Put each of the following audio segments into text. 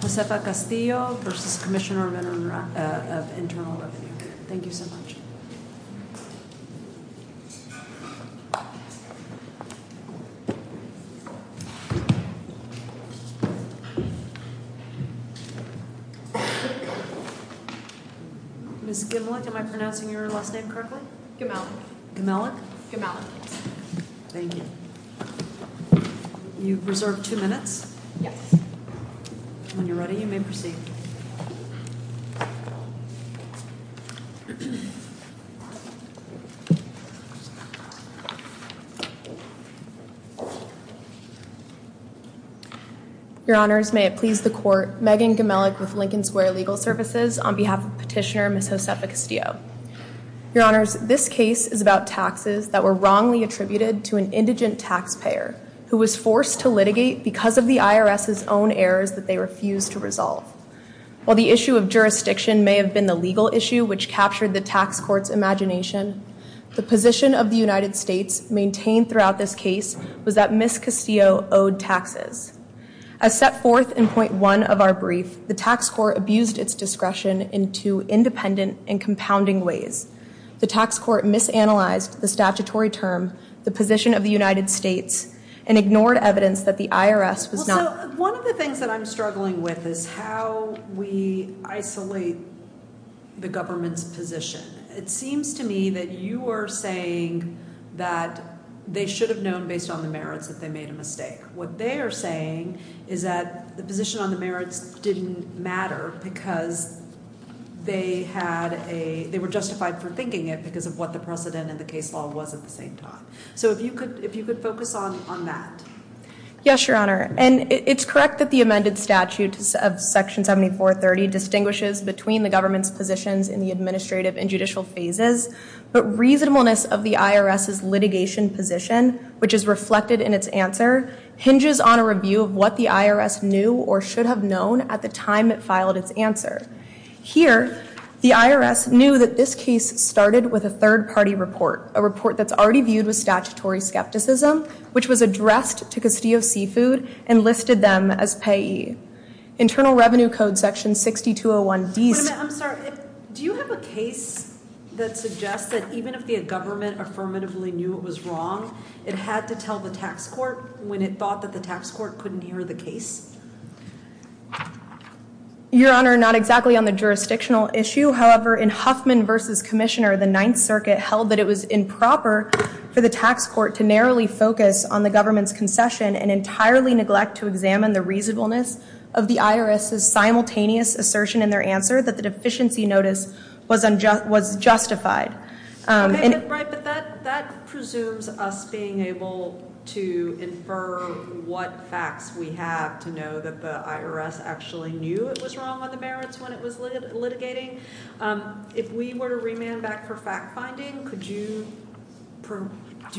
Josefa Castillo v. Commissioner of Internal Revenue Megan Gemelik v. Lincoln Square Legal Services Petitioner, Ms. Josefa Castillo. Your Honors, this case is about taxes that were wrongly attributed to an indigent taxpayer who was forced to litigate because of the IRS's own errors that they refused to resolve. While the issue of jurisdiction may have been the legal issue which captured the tax court's imagination, the position of the United States maintained throughout this case was that Ms. Castillo owed taxes. As set forth in Point 1 of our brief, the tax court abused its discretion in two independent and compounding ways. The tax court misanalyzed the statutory term, the position of the United States, and ignored evidence that the IRS was not... Well, so one of the things that I'm struggling with is how we isolate the government's position. It seems to me that you are saying that they should have known based on the merits that they made a mistake. What they are saying is that the position on the merits didn't matter because they were justified for thinking it because of what the precedent in the case law was at the same time. So if you could focus on that. Yes, Your Honor, and it's correct that the amended statute of Section 7430 distinguishes between the government's positions in the administrative and judicial phases, but reasonableness of the IRS's litigation position, which is reflected in its answer, hinges on a review of what the IRS knew or should have known at the time it filed its answer. Here, the IRS knew that this case started with a third-party report, a report that's already viewed with statutory skepticism, which was addressed to Castillo Seafood and listed them as payee. Internal Revenue Code Section 6201D... Wait a minute, I'm sorry. Do you have a case that suggests that even if the government affirmatively knew it was wrong, it had to tell the tax court when it thought that the tax court couldn't hear the case? Your Honor, not exactly on the jurisdictional issue. However, in Huffman v. Commissioner, the Ninth Circuit held that it was improper for the tax court to narrowly focus on the government's concession and entirely neglect to examine the reasonableness of the IRS's simultaneous assertion in their answer that the deficiency notice was justified. Right, but that presumes us being able to infer what facts we have to know that the IRS actually knew it was wrong on the merits when it was litigating. If we were to remand back for fact-finding, do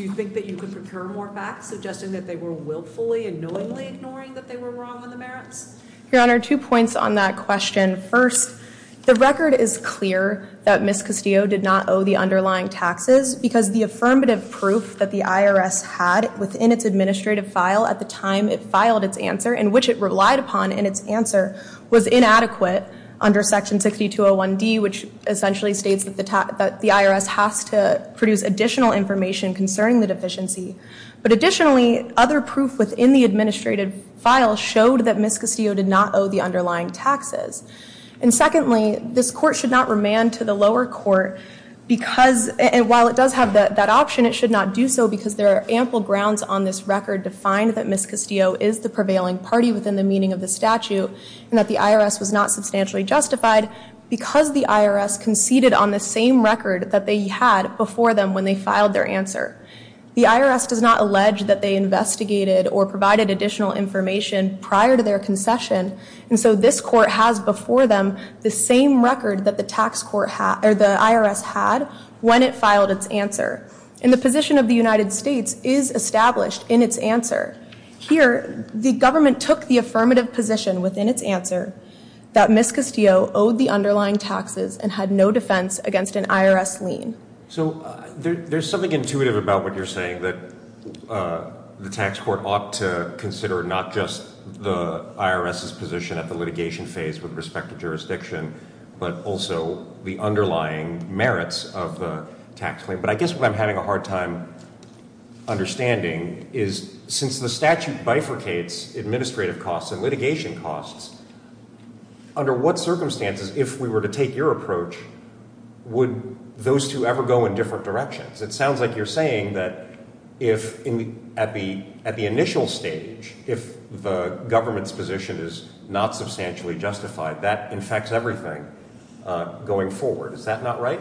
you think that you could procure more facts suggesting that they were willfully and knowingly ignoring that they were wrong on the merits? Your Honor, two points on that question. First, the record is clear that Ms. Castillo did not owe the underlying taxes because the affirmative proof that the IRS had within its administrative file at the time it filed its answer and which it relied upon in its answer was inadequate under Section 6201D, which essentially states that the IRS has to produce additional information concerning the deficiency. But additionally, other proof within the administrative file showed that Ms. Castillo did not owe the underlying taxes. And secondly, this court should not remand to the lower court because, and while it does have that option, it should not do so because there are ample grounds on this record to find that Ms. Castillo is the prevailing party within the meaning of the statute and that the IRS was not substantially justified because the IRS conceded on the same record that they had before them when they filed their answer. The IRS does not allege that they investigated or provided additional information prior to their concession. And so this court has before them the same record that the IRS had when it filed its answer. And the position of the United States is established in its answer. Here, the government took the affirmative position within its answer that Ms. Castillo owed the underlying taxes and had no defense against an IRS lien. So there's something intuitive about what you're saying, that the tax court ought to consider not just the IRS's position at the litigation phase with respect to jurisdiction, but also the underlying merits of the tax claim. But I guess what I'm having a hard time understanding is since the statute bifurcates administrative costs and litigation costs, under what circumstances, if we were to take your approach, would those two ever go in different directions? It sounds like you're saying that at the initial stage, if the government's position is not substantially justified, that infects everything going forward. Is that not right?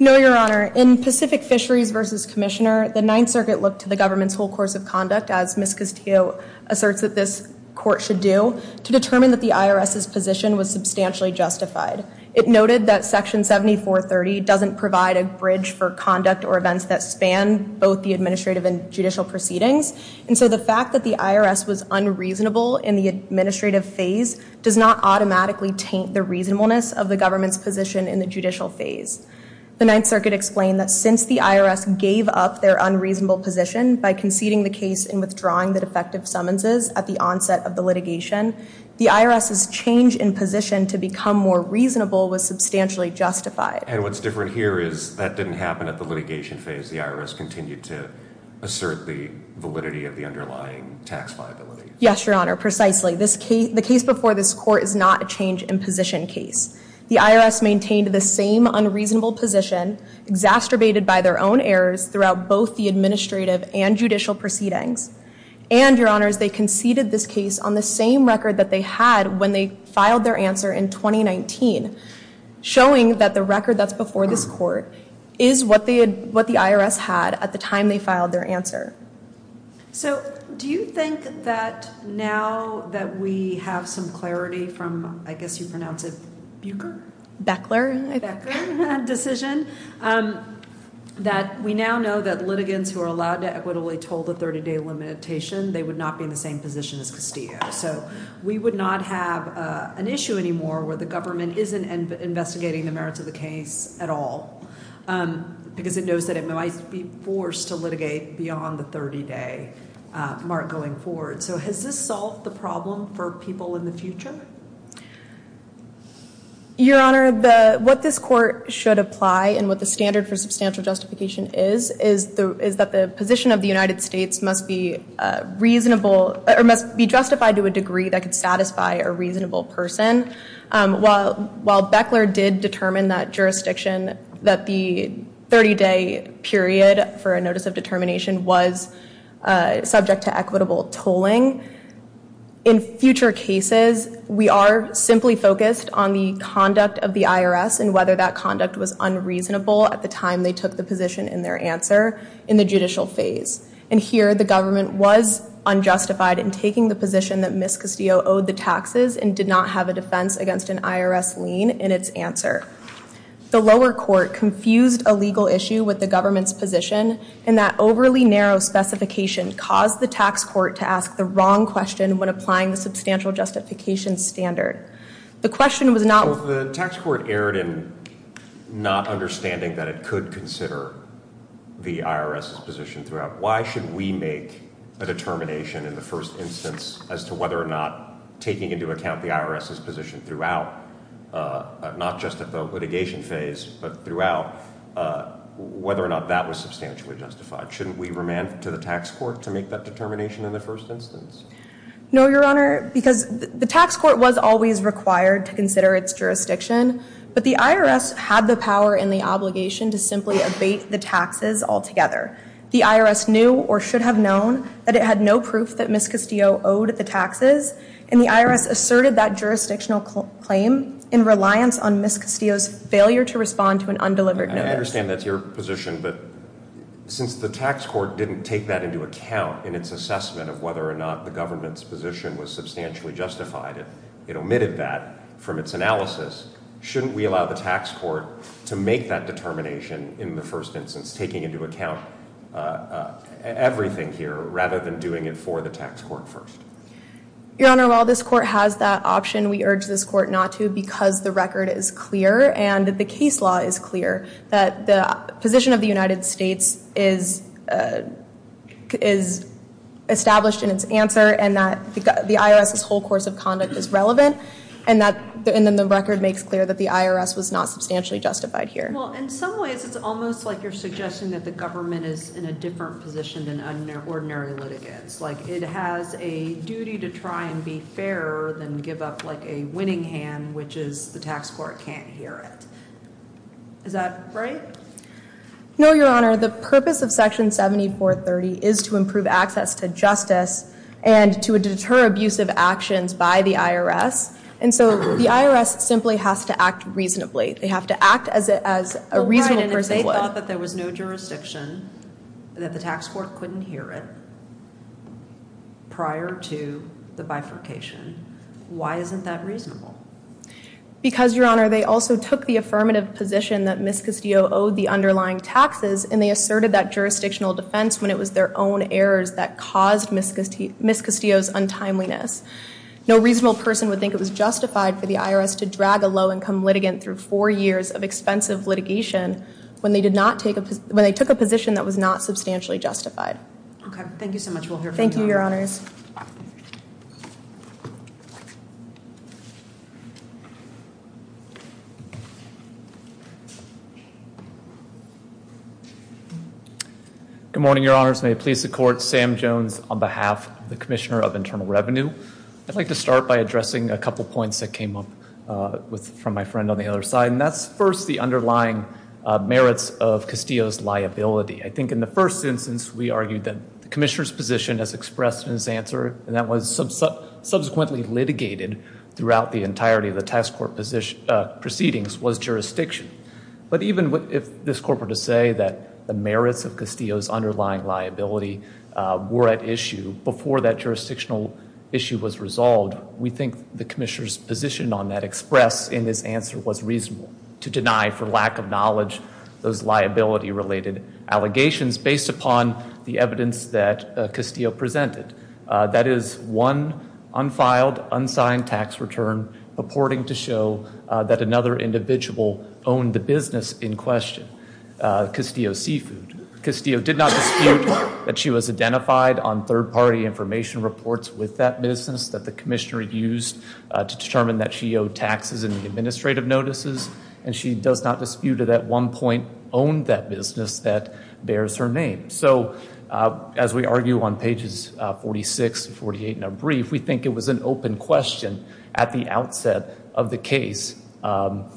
No, Your Honor. In Pacific Fisheries v. Commissioner, the Ninth Circuit looked to the government's whole course of conduct, as Ms. Castillo asserts that this court should do, to determine that the IRS's position was substantially justified. It noted that Section 7430 doesn't provide a bridge for conduct or events that span both the administrative and judicial proceedings. And so the fact that the IRS was unreasonable in the administrative phase does not automatically taint the reasonableness of the government's position in the judicial phase. The Ninth Circuit explained that since the IRS gave up their unreasonable position by conceding the case and withdrawing the defective summonses at the onset of the litigation, the IRS's change in position to become more reasonable was substantially justified. And what's different here is that didn't happen at the litigation phase. The IRS continued to assert the validity of the underlying tax liability. Yes, Your Honor. Precisely. The case before this court is not a change in position case. The IRS maintained the same unreasonable position, exacerbated by their own errors throughout both the administrative and judicial proceedings. And, Your Honors, they conceded this case on the same record that they had when they filed their answer in 2019, showing that the record that's before this court is what the IRS had at the time they filed their answer. So do you think that now that we have some clarity from, I guess you pronounce it, Bucher? Beckler. Beckler decision, that we now know that litigants who are allowed to equitably told a 30-day limitation, they would not be in the same position as Castillo. So we would not have an issue anymore where the government isn't investigating the merits of the case at all, because it knows that it might be forced to litigate beyond the 30-day mark going forward. So has this solved the problem for people in the future? Your Honor, what this court should apply and what the standard for substantial justification is, is that the position of the United States must be reasonable or must be justified to a degree that could satisfy a reasonable person. While Beckler did determine that jurisdiction, that the 30-day period for a notice of determination was subject to equitable tolling, in future cases we are simply focused on the conduct of the IRS and whether that conduct was unreasonable at the time they took the position in their answer in the judicial phase. And here the government was unjustified in taking the position that Ms. Castillo owed the taxes and did not have a defense against an IRS lien in its answer. The lower court confused a legal issue with the government's position, and that overly narrow specification caused the tax court to ask the wrong question when applying the substantial justification standard. The question was not- So the tax court erred in not understanding that it could consider the IRS's position throughout. Why should we make a determination in the first instance as to whether or not taking into account the IRS's position throughout, not just at the litigation phase, but throughout, whether or not that was substantially justified? Shouldn't we remand to the tax court to make that determination in the first instance? No, Your Honor, because the tax court was always required to consider its jurisdiction, but the IRS had the power and the obligation to simply abate the taxes altogether. The IRS knew or should have known that it had no proof that Ms. Castillo owed the taxes, and the IRS asserted that jurisdictional claim in reliance on Ms. Castillo's failure to respond to an undelivered notice. I understand that's your position, but since the tax court didn't take that into account in its assessment of whether or not the government's position was substantially justified, it omitted that from its analysis, shouldn't we allow the tax court to make that determination in the first instance, taking into account everything here rather than doing it for the tax court first? Your Honor, while this court has that option, we urge this court not to because the record is clear and the case law is clear that the position of the United States is established in its answer and that the IRS's whole course of conduct is relevant, and then the record makes clear that the IRS was not substantially justified here. Well, in some ways it's almost like you're suggesting that the government is in a different position than ordinary litigants. It has a duty to try and be fairer than give up a winning hand, which is the tax court can't hear it. Is that right? No, Your Honor. The purpose of Section 7430 is to improve access to justice and to deter abusive actions by the IRS, and so the IRS simply has to act reasonably. They have to act as a reasonable person would. If they thought that there was no jurisdiction, that the tax court couldn't hear it prior to the bifurcation, why isn't that reasonable? Because, Your Honor, they also took the affirmative position that Ms. Castillo owed the underlying taxes, and they asserted that jurisdictional defense when it was their own errors that caused Ms. Castillo's untimeliness. No reasonable person would think it was justified for the IRS to drag a low-income litigant through four years of expensive litigation when they took a position that was not substantially justified. Okay, thank you so much. We'll hear from you, Your Honor. Thank you, Your Honors. Good morning, Your Honors. May it please the Court, Sam Jones on behalf of the Commissioner of Internal Revenue. I'd like to start by addressing a couple points that came up from my friend on the other side, and that's first the underlying merits of Castillo's liability. I think in the first instance we argued that the Commissioner's position as expressed in his answer, and that was subsequently litigated throughout the entirety of the tax court proceedings, was jurisdiction. But even if this Court were to say that the merits of Castillo's underlying liability were at issue before that jurisdictional issue was resolved, we think the Commissioner's position on that expressed in his answer was reasonable to deny for lack of knowledge those liability-related allegations based upon the evidence that Castillo presented. That is, one unfiled, unsigned tax return purporting to show that another individual owned the business in question, Castillo's Seafood. Castillo did not dispute that she was identified on third-party information reports with that business that the Commissioner used to determine that she owed taxes in the administrative notices, and she does not dispute that at one point owned that business that bears her name. So, as we argue on pages 46 and 48 in our brief, we think it was an open question at the outset of the case of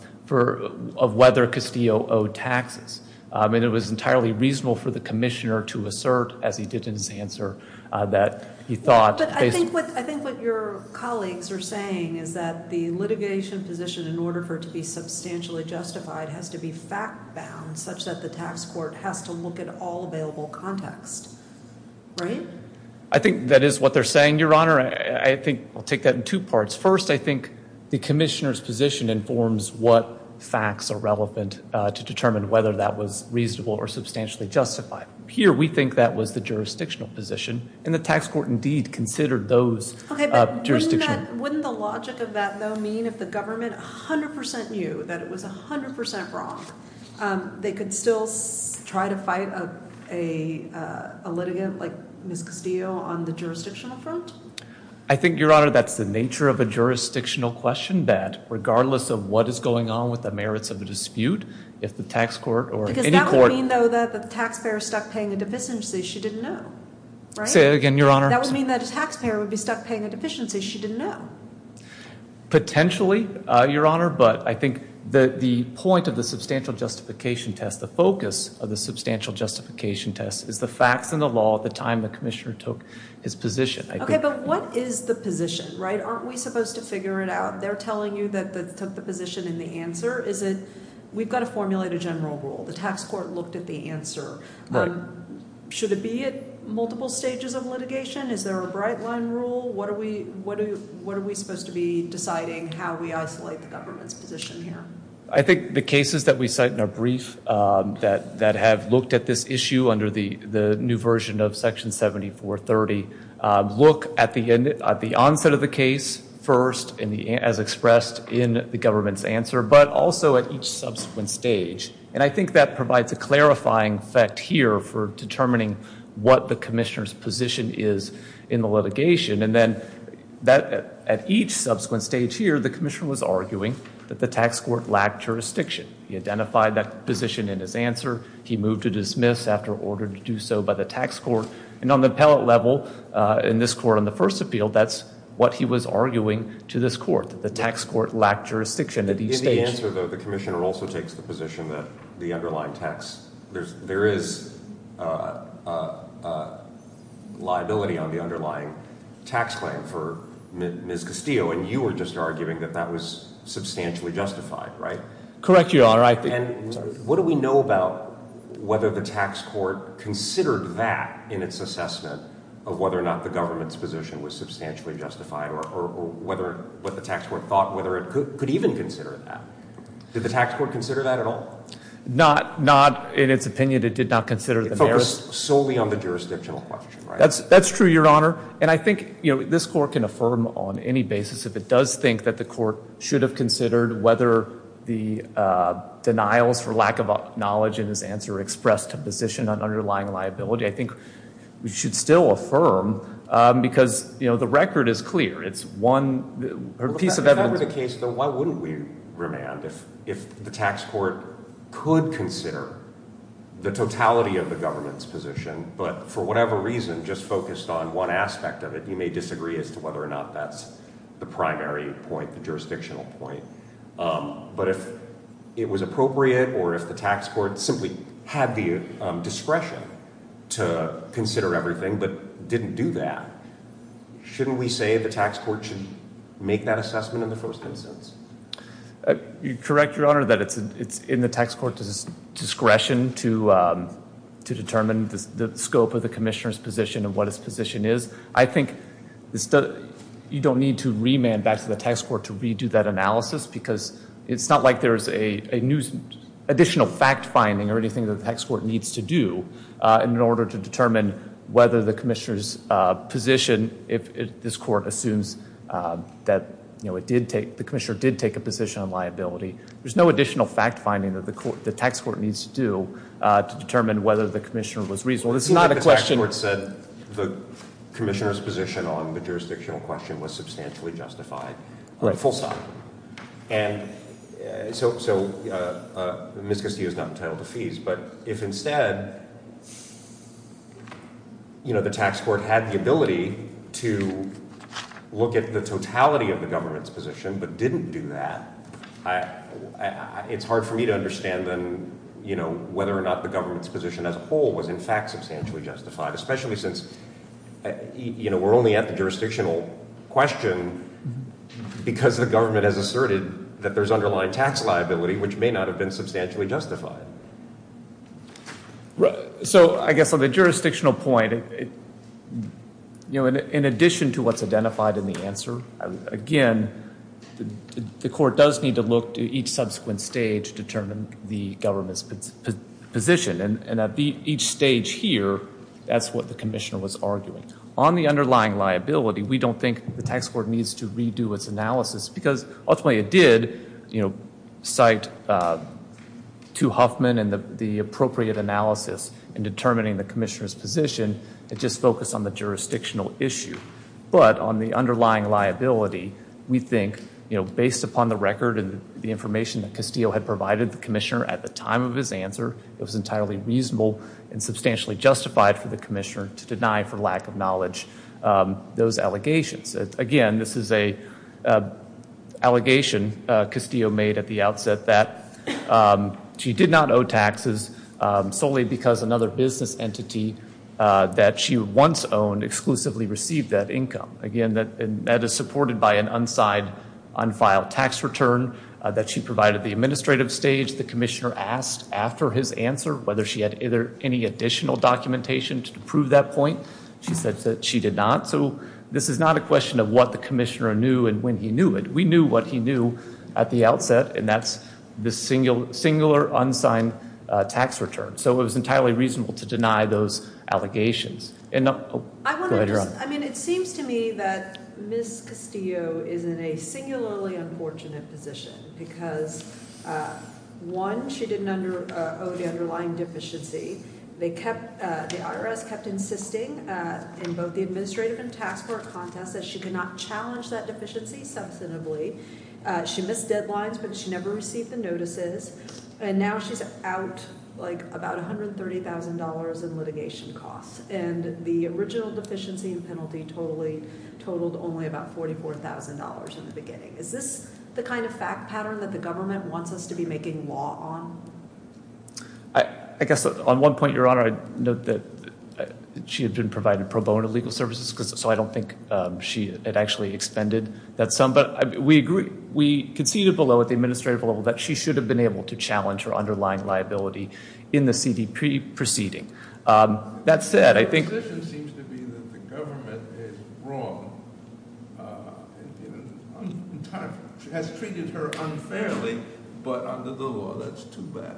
whether Castillo owed taxes. And it was entirely reasonable for the Commissioner to assert, as he did in his answer, that he thought... But I think what your colleagues are saying is that the litigation position, in order for it to be substantially justified, has to be fact-bound such that the tax court has to look at all available context, right? I think that is what they're saying, Your Honor. I think I'll take that in two parts. First, I think the Commissioner's position informs what facts are relevant to determine whether that was reasonable or substantially justified. Here, we think that was the jurisdictional position, and the tax court indeed considered those jurisdictional. Okay, but wouldn't the logic of that, though, mean if the government 100 percent knew that it was 100 percent wrong, they could still try to fight a litigant like Ms. Castillo on the jurisdictional front? I think, Your Honor, that's the nature of a jurisdictional question, that regardless of what is going on with the merits of the dispute, if the tax court or any court... She didn't know, right? Say that again, Your Honor. That would mean that a taxpayer would be stuck paying a deficiency. She didn't know. Potentially, Your Honor, but I think the point of the substantial justification test, the focus of the substantial justification test is the facts and the law at the time the Commissioner took his position. Okay, but what is the position, right? Aren't we supposed to figure it out? They're telling you that they took the position and the answer. Is it we've got to formulate a general rule? The tax court looked at the answer. Right. Should it be at multiple stages of litigation? Is there a bright line rule? What are we supposed to be deciding how we isolate the government's position here? I think the cases that we cite in our brief that have looked at this issue under the new version of Section 7430 look at the onset of the case first as expressed in the government's answer, but also at each subsequent stage. And I think that provides a clarifying fact here for determining what the Commissioner's position is in the litigation. And then at each subsequent stage here, the Commissioner was arguing that the tax court lacked jurisdiction. He identified that position in his answer. He moved to dismiss after order to do so by the tax court. And on the appellate level, in this court on the first appeal, that's what he was arguing to this court, that the tax court lacked jurisdiction at each stage. In your answer, though, the Commissioner also takes the position that the underlying tax, there is liability on the underlying tax claim for Ms. Castillo, and you were just arguing that that was substantially justified, right? Correct you, Your Honor. And what do we know about whether the tax court considered that in its assessment of whether or not the government's position was substantially justified or what the tax court thought whether it could even consider that? Did the tax court consider that at all? Not in its opinion. It did not consider the merits. It focused solely on the jurisdictional question, right? That's true, Your Honor. And I think this court can affirm on any basis if it does think that the court should have considered whether the denials for lack of knowledge in his answer expressed a position on underlying liability. I think we should still affirm because, you know, the record is clear. It's one piece of evidence. If that were the case, though, why wouldn't we remand? If the tax court could consider the totality of the government's position, but for whatever reason just focused on one aspect of it, you may disagree as to whether or not that's the primary point, the jurisdictional point. But if it was appropriate or if the tax court simply had the discretion to consider everything but didn't do that, shouldn't we say the tax court should make that assessment in the first instance? You're correct, Your Honor, that it's in the tax court's discretion to determine the scope of the commissioner's position and what his position is. I think you don't need to remand back to the tax court to redo that analysis because it's not like there's an additional fact-finding or anything that the tax court needs to do in order to determine whether the commissioner's position, if this court assumes that the commissioner did take a position on liability. There's no additional fact-finding that the tax court needs to do to determine whether the commissioner was reasonable. It's not a question. The tax court said the commissioner's position on the jurisdictional question was substantially justified. Right, full stop. And so Ms. Castillo's not entitled to fees, but if instead, you know, the tax court had the ability to look at the totality of the government's position but didn't do that, it's hard for me to understand then, you know, especially since, you know, we're only at the jurisdictional question because the government has asserted that there's underlying tax liability, which may not have been substantially justified. So I guess on the jurisdictional point, you know, in addition to what's identified in the answer, again, the court does need to look to each subsequent stage to determine the government's position. And at each stage here, that's what the commissioner was arguing. On the underlying liability, we don't think the tax court needs to redo its analysis because ultimately it did, you know, cite two Huffman and the appropriate analysis in determining the commissioner's position. It just focused on the jurisdictional issue. But on the underlying liability, we think, you know, based upon the record and the information that Castillo had provided the commissioner at the time of his answer, it was entirely reasonable and substantially justified for the commissioner to deny, for lack of knowledge, those allegations. Again, this is an allegation Castillo made at the outset that she did not owe taxes solely because another business entity that she once owned exclusively received that income. Again, that is supported by an unsigned, unfiled tax return that she provided at the administrative stage. The commissioner asked after his answer whether she had any additional documentation to prove that point. She said that she did not. So this is not a question of what the commissioner knew and when he knew it. We knew what he knew at the outset, and that's the singular unsigned tax return. So it was entirely reasonable to deny those allegations. I mean, it seems to me that Ms. Castillo is in a singularly unfortunate position because, one, she didn't owe the underlying deficiency. The IRS kept insisting in both the administrative and tax court contest that she could not challenge that deficiency substantively. She missed deadlines, but she never received the notices. And now she's out, like, about $130,000 in litigation costs. And the original deficiency and penalty totaled only about $44,000 in the beginning. Is this the kind of fact pattern that the government wants us to be making law on? I guess on one point, Your Honor, I'd note that she had been provided pro bono legal services, so I don't think she had actually expended that sum. But we conceded below at the administrative level that she should have been able to challenge her underlying liability in the CDP proceeding. That said, I think- The position seems to be that the government is wrong. It has treated her unfairly, but under the law, that's too bad.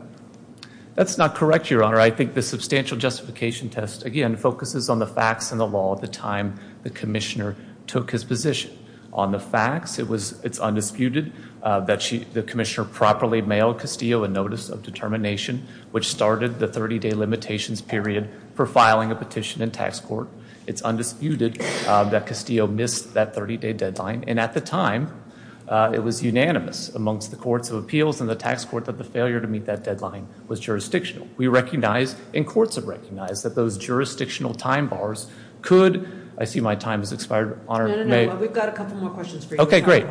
That's not correct, Your Honor. I think the substantial justification test, again, focuses on the facts and the law at the time the commissioner took his position. On the facts, it's undisputed that the commissioner properly mailed Castillo a notice of determination, which started the 30-day limitations period for filing a petition in tax court. It's undisputed that Castillo missed that 30-day deadline. And at the time, it was unanimous amongst the courts of appeals and the tax court that the failure to meet that deadline was jurisdictional. We recognize and courts have recognized that those jurisdictional time bars could- I see my time has expired. No, no, no. We've got a couple more questions for you. Okay, great.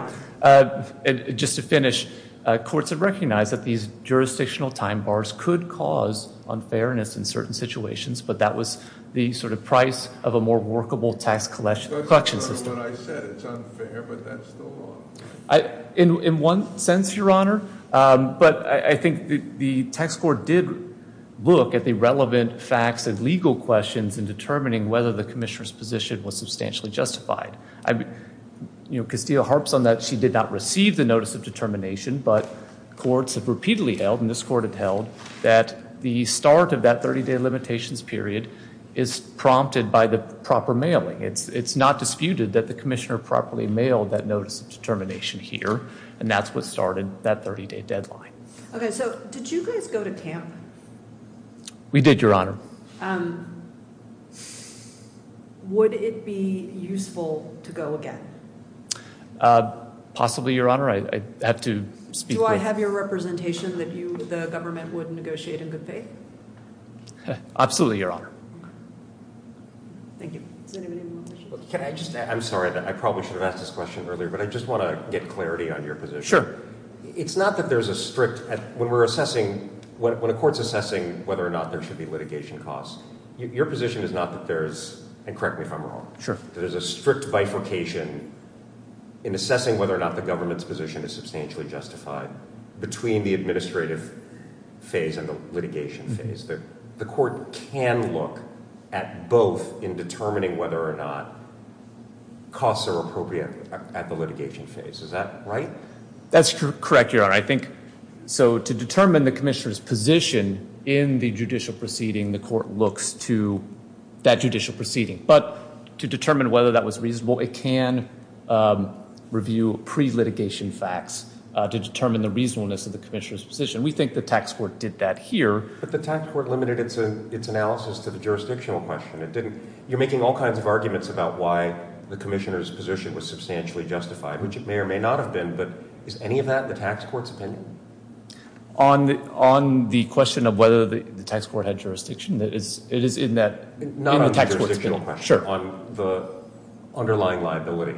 Just to finish, courts have recognized that these jurisdictional time bars could cause unfairness in certain situations, but that was the sort of price of a more workable tax collection system. I said it's unfair, but that's still wrong. In one sense, Your Honor, but I think the tax court did look at the relevant facts and legal questions in determining whether the commissioner's position was substantially justified. Castillo harps on that she did not receive the notice of determination, but courts have repeatedly held, and this court had held, that the start of that 30-day limitations period is prompted by the proper mailing. It's not disputed that the commissioner properly mailed that notice of determination here, and that's what started that 30-day deadline. Okay, so did you guys go to Tampa? We did, Your Honor. Would it be useful to go again? Possibly, Your Honor. I'd have to speak to- Do I have your representation that the government would negotiate in good faith? Absolutely, Your Honor. Thank you. I'm sorry. I probably should have asked this question earlier, but I just want to get clarity on your position. Sure. It's not that there's a strict- When a court's assessing whether or not there should be litigation costs, your position is not that there's- and correct me if I'm wrong- Sure. There's a strict bifurcation in assessing whether or not the government's position is substantially justified between the administrative phase and the litigation phase. The court can look at both in determining whether or not costs are appropriate at the litigation phase. Is that right? That's correct, Your Honor. I think- So to determine the commissioner's position in the judicial proceeding, the court looks to that judicial proceeding. But to determine whether that was reasonable, it can review pre-litigation facts to determine the reasonableness of the commissioner's position. We think the tax court did that here. But the tax court limited its analysis to the jurisdictional question. It didn't- You're making all kinds of arguments about why the commissioner's position was substantially justified, which it may or may not have been. But is any of that in the tax court's opinion? On the question of whether the tax court had jurisdiction, it is in that- Not on the jurisdictional question. Sure. On the underlying liability,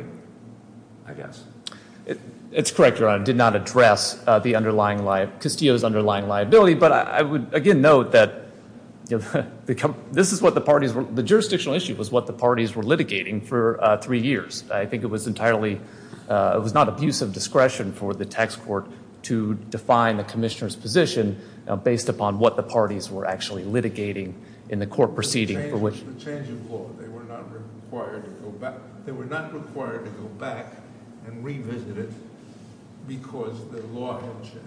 I guess. It's correct, Your Honor. It did not address Castillo's underlying liability. But I would, again, note that the jurisdictional issue was what the parties were litigating for three years. I think it was entirely- It was not abuse of discretion for the tax court to define the commissioner's position based upon what the parties were actually litigating in the court proceeding for which- The change of law. They were not required to go back and revisit it because the law had changed.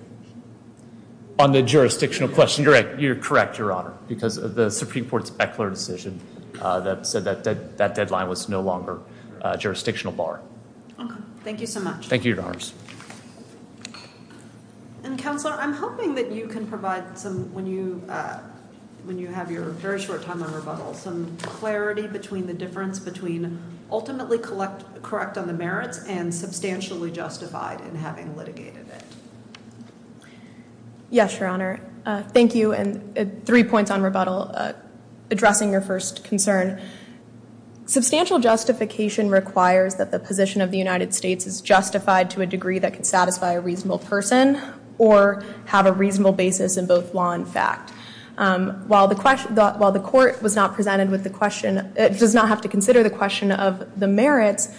On the jurisdictional question, you're correct, Your Honor, because of the Supreme Court's Beckler decision that said that deadline was no longer a jurisdictional bar. Thank you so much. And, Counselor, I'm hoping that you can provide some, when you have your very short time on rebuttal, some clarity between the difference between ultimately correct on the merits and substantially justified in having litigated it. Yes, Your Honor. Thank you. And three points on rebuttal. Addressing your first concern, substantial justification requires that the position of the United States is justified to a degree that can satisfy a reasonable person or have a reasonable basis in both law and fact. While the court does not have to consider the question of the merits,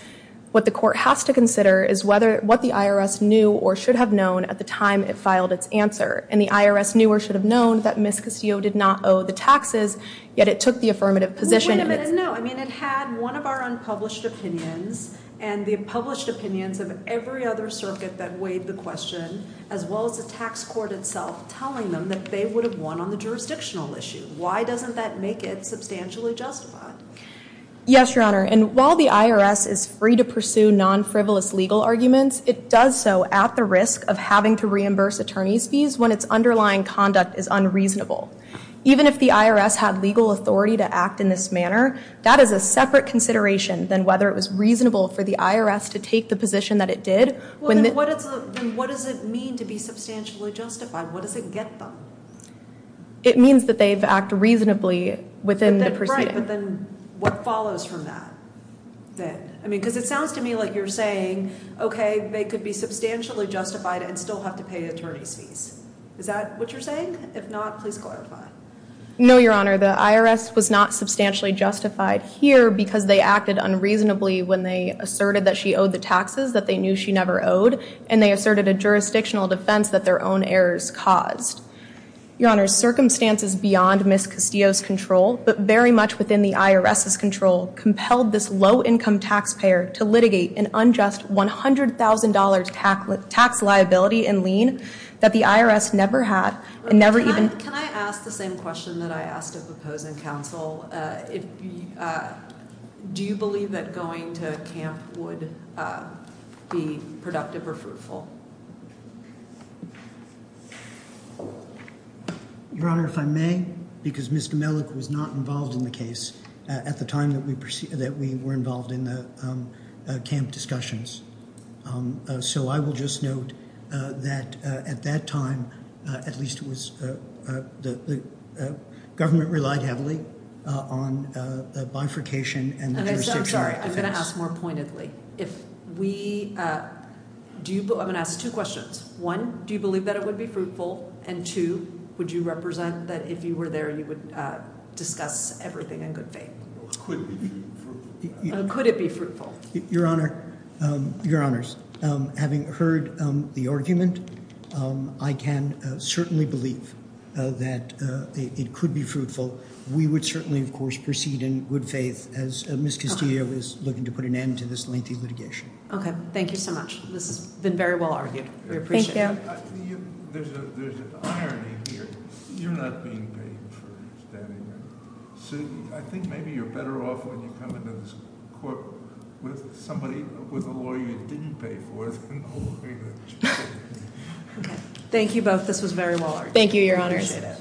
what the court has to consider is what the IRS knew or should have known at the time it filed its answer. And the IRS knew or should have known that Ms. Castillo did not owe the taxes, yet it took the affirmative position. Wait a minute. No, I mean, it had one of our unpublished opinions and the published opinions of every other circuit that weighed the question, as well as the tax court itself, telling them that they would have won on the jurisdictional issue. Why doesn't that make it substantially justified? Yes, Your Honor. And while the IRS is free to pursue non-frivolous legal arguments, it does so at the risk of having to reimburse attorney's fees when its underlying conduct is unreasonable. Even if the IRS had legal authority to act in this manner, that is a separate consideration than whether it was reasonable for the IRS to take the position that it did. Well, then what does it mean to be substantially justified? What does it get them? It means that they've acted reasonably within the proceeding. Right, but then what follows from that? Because it sounds to me like you're saying, okay, they could be substantially justified and still have to pay attorney's fees. Is that what you're saying? If not, please clarify. No, Your Honor. The IRS was not substantially justified here because they acted unreasonably when they asserted that she owed the taxes that they knew she never owed, and they asserted a jurisdictional defense that their own errors caused. Your Honor, circumstances beyond Ms. Castillo's control, but very much within the IRS's control, compelled this low-income taxpayer to litigate an unjust $100,000 tax liability and lien that the IRS never had. Can I ask the same question that I asked of opposing counsel? Do you believe that going to camp would be productive or fruitful? Your Honor, if I may, because Mr. Mellick was not involved in the case at the time that we were involved in the camp discussions, so I will just note that at that time, at least it was the government relied heavily on the bifurcation and the jurisdictional defense. I'm sorry. I'm going to ask more pointedly. I'm going to ask two questions. One, do you believe that it would be fruitful? And two, would you represent that if you were there, you would discuss everything in good faith? Could it be fruitful? Your Honor, having heard the argument, I can certainly believe that it could be fruitful. We would certainly, of course, proceed in good faith as Ms. Castillo is looking to put an end to this lengthy litigation. Okay. Thank you so much. This has been very well-argued. We appreciate it. There's an irony here. You're not being paid for standing up. I think maybe you're better off when you come into this court with a lawyer you didn't pay for than a lawyer that you did. Okay. Thank you both. This was very well-argued. Thank you, Your Honors. Appreciate it.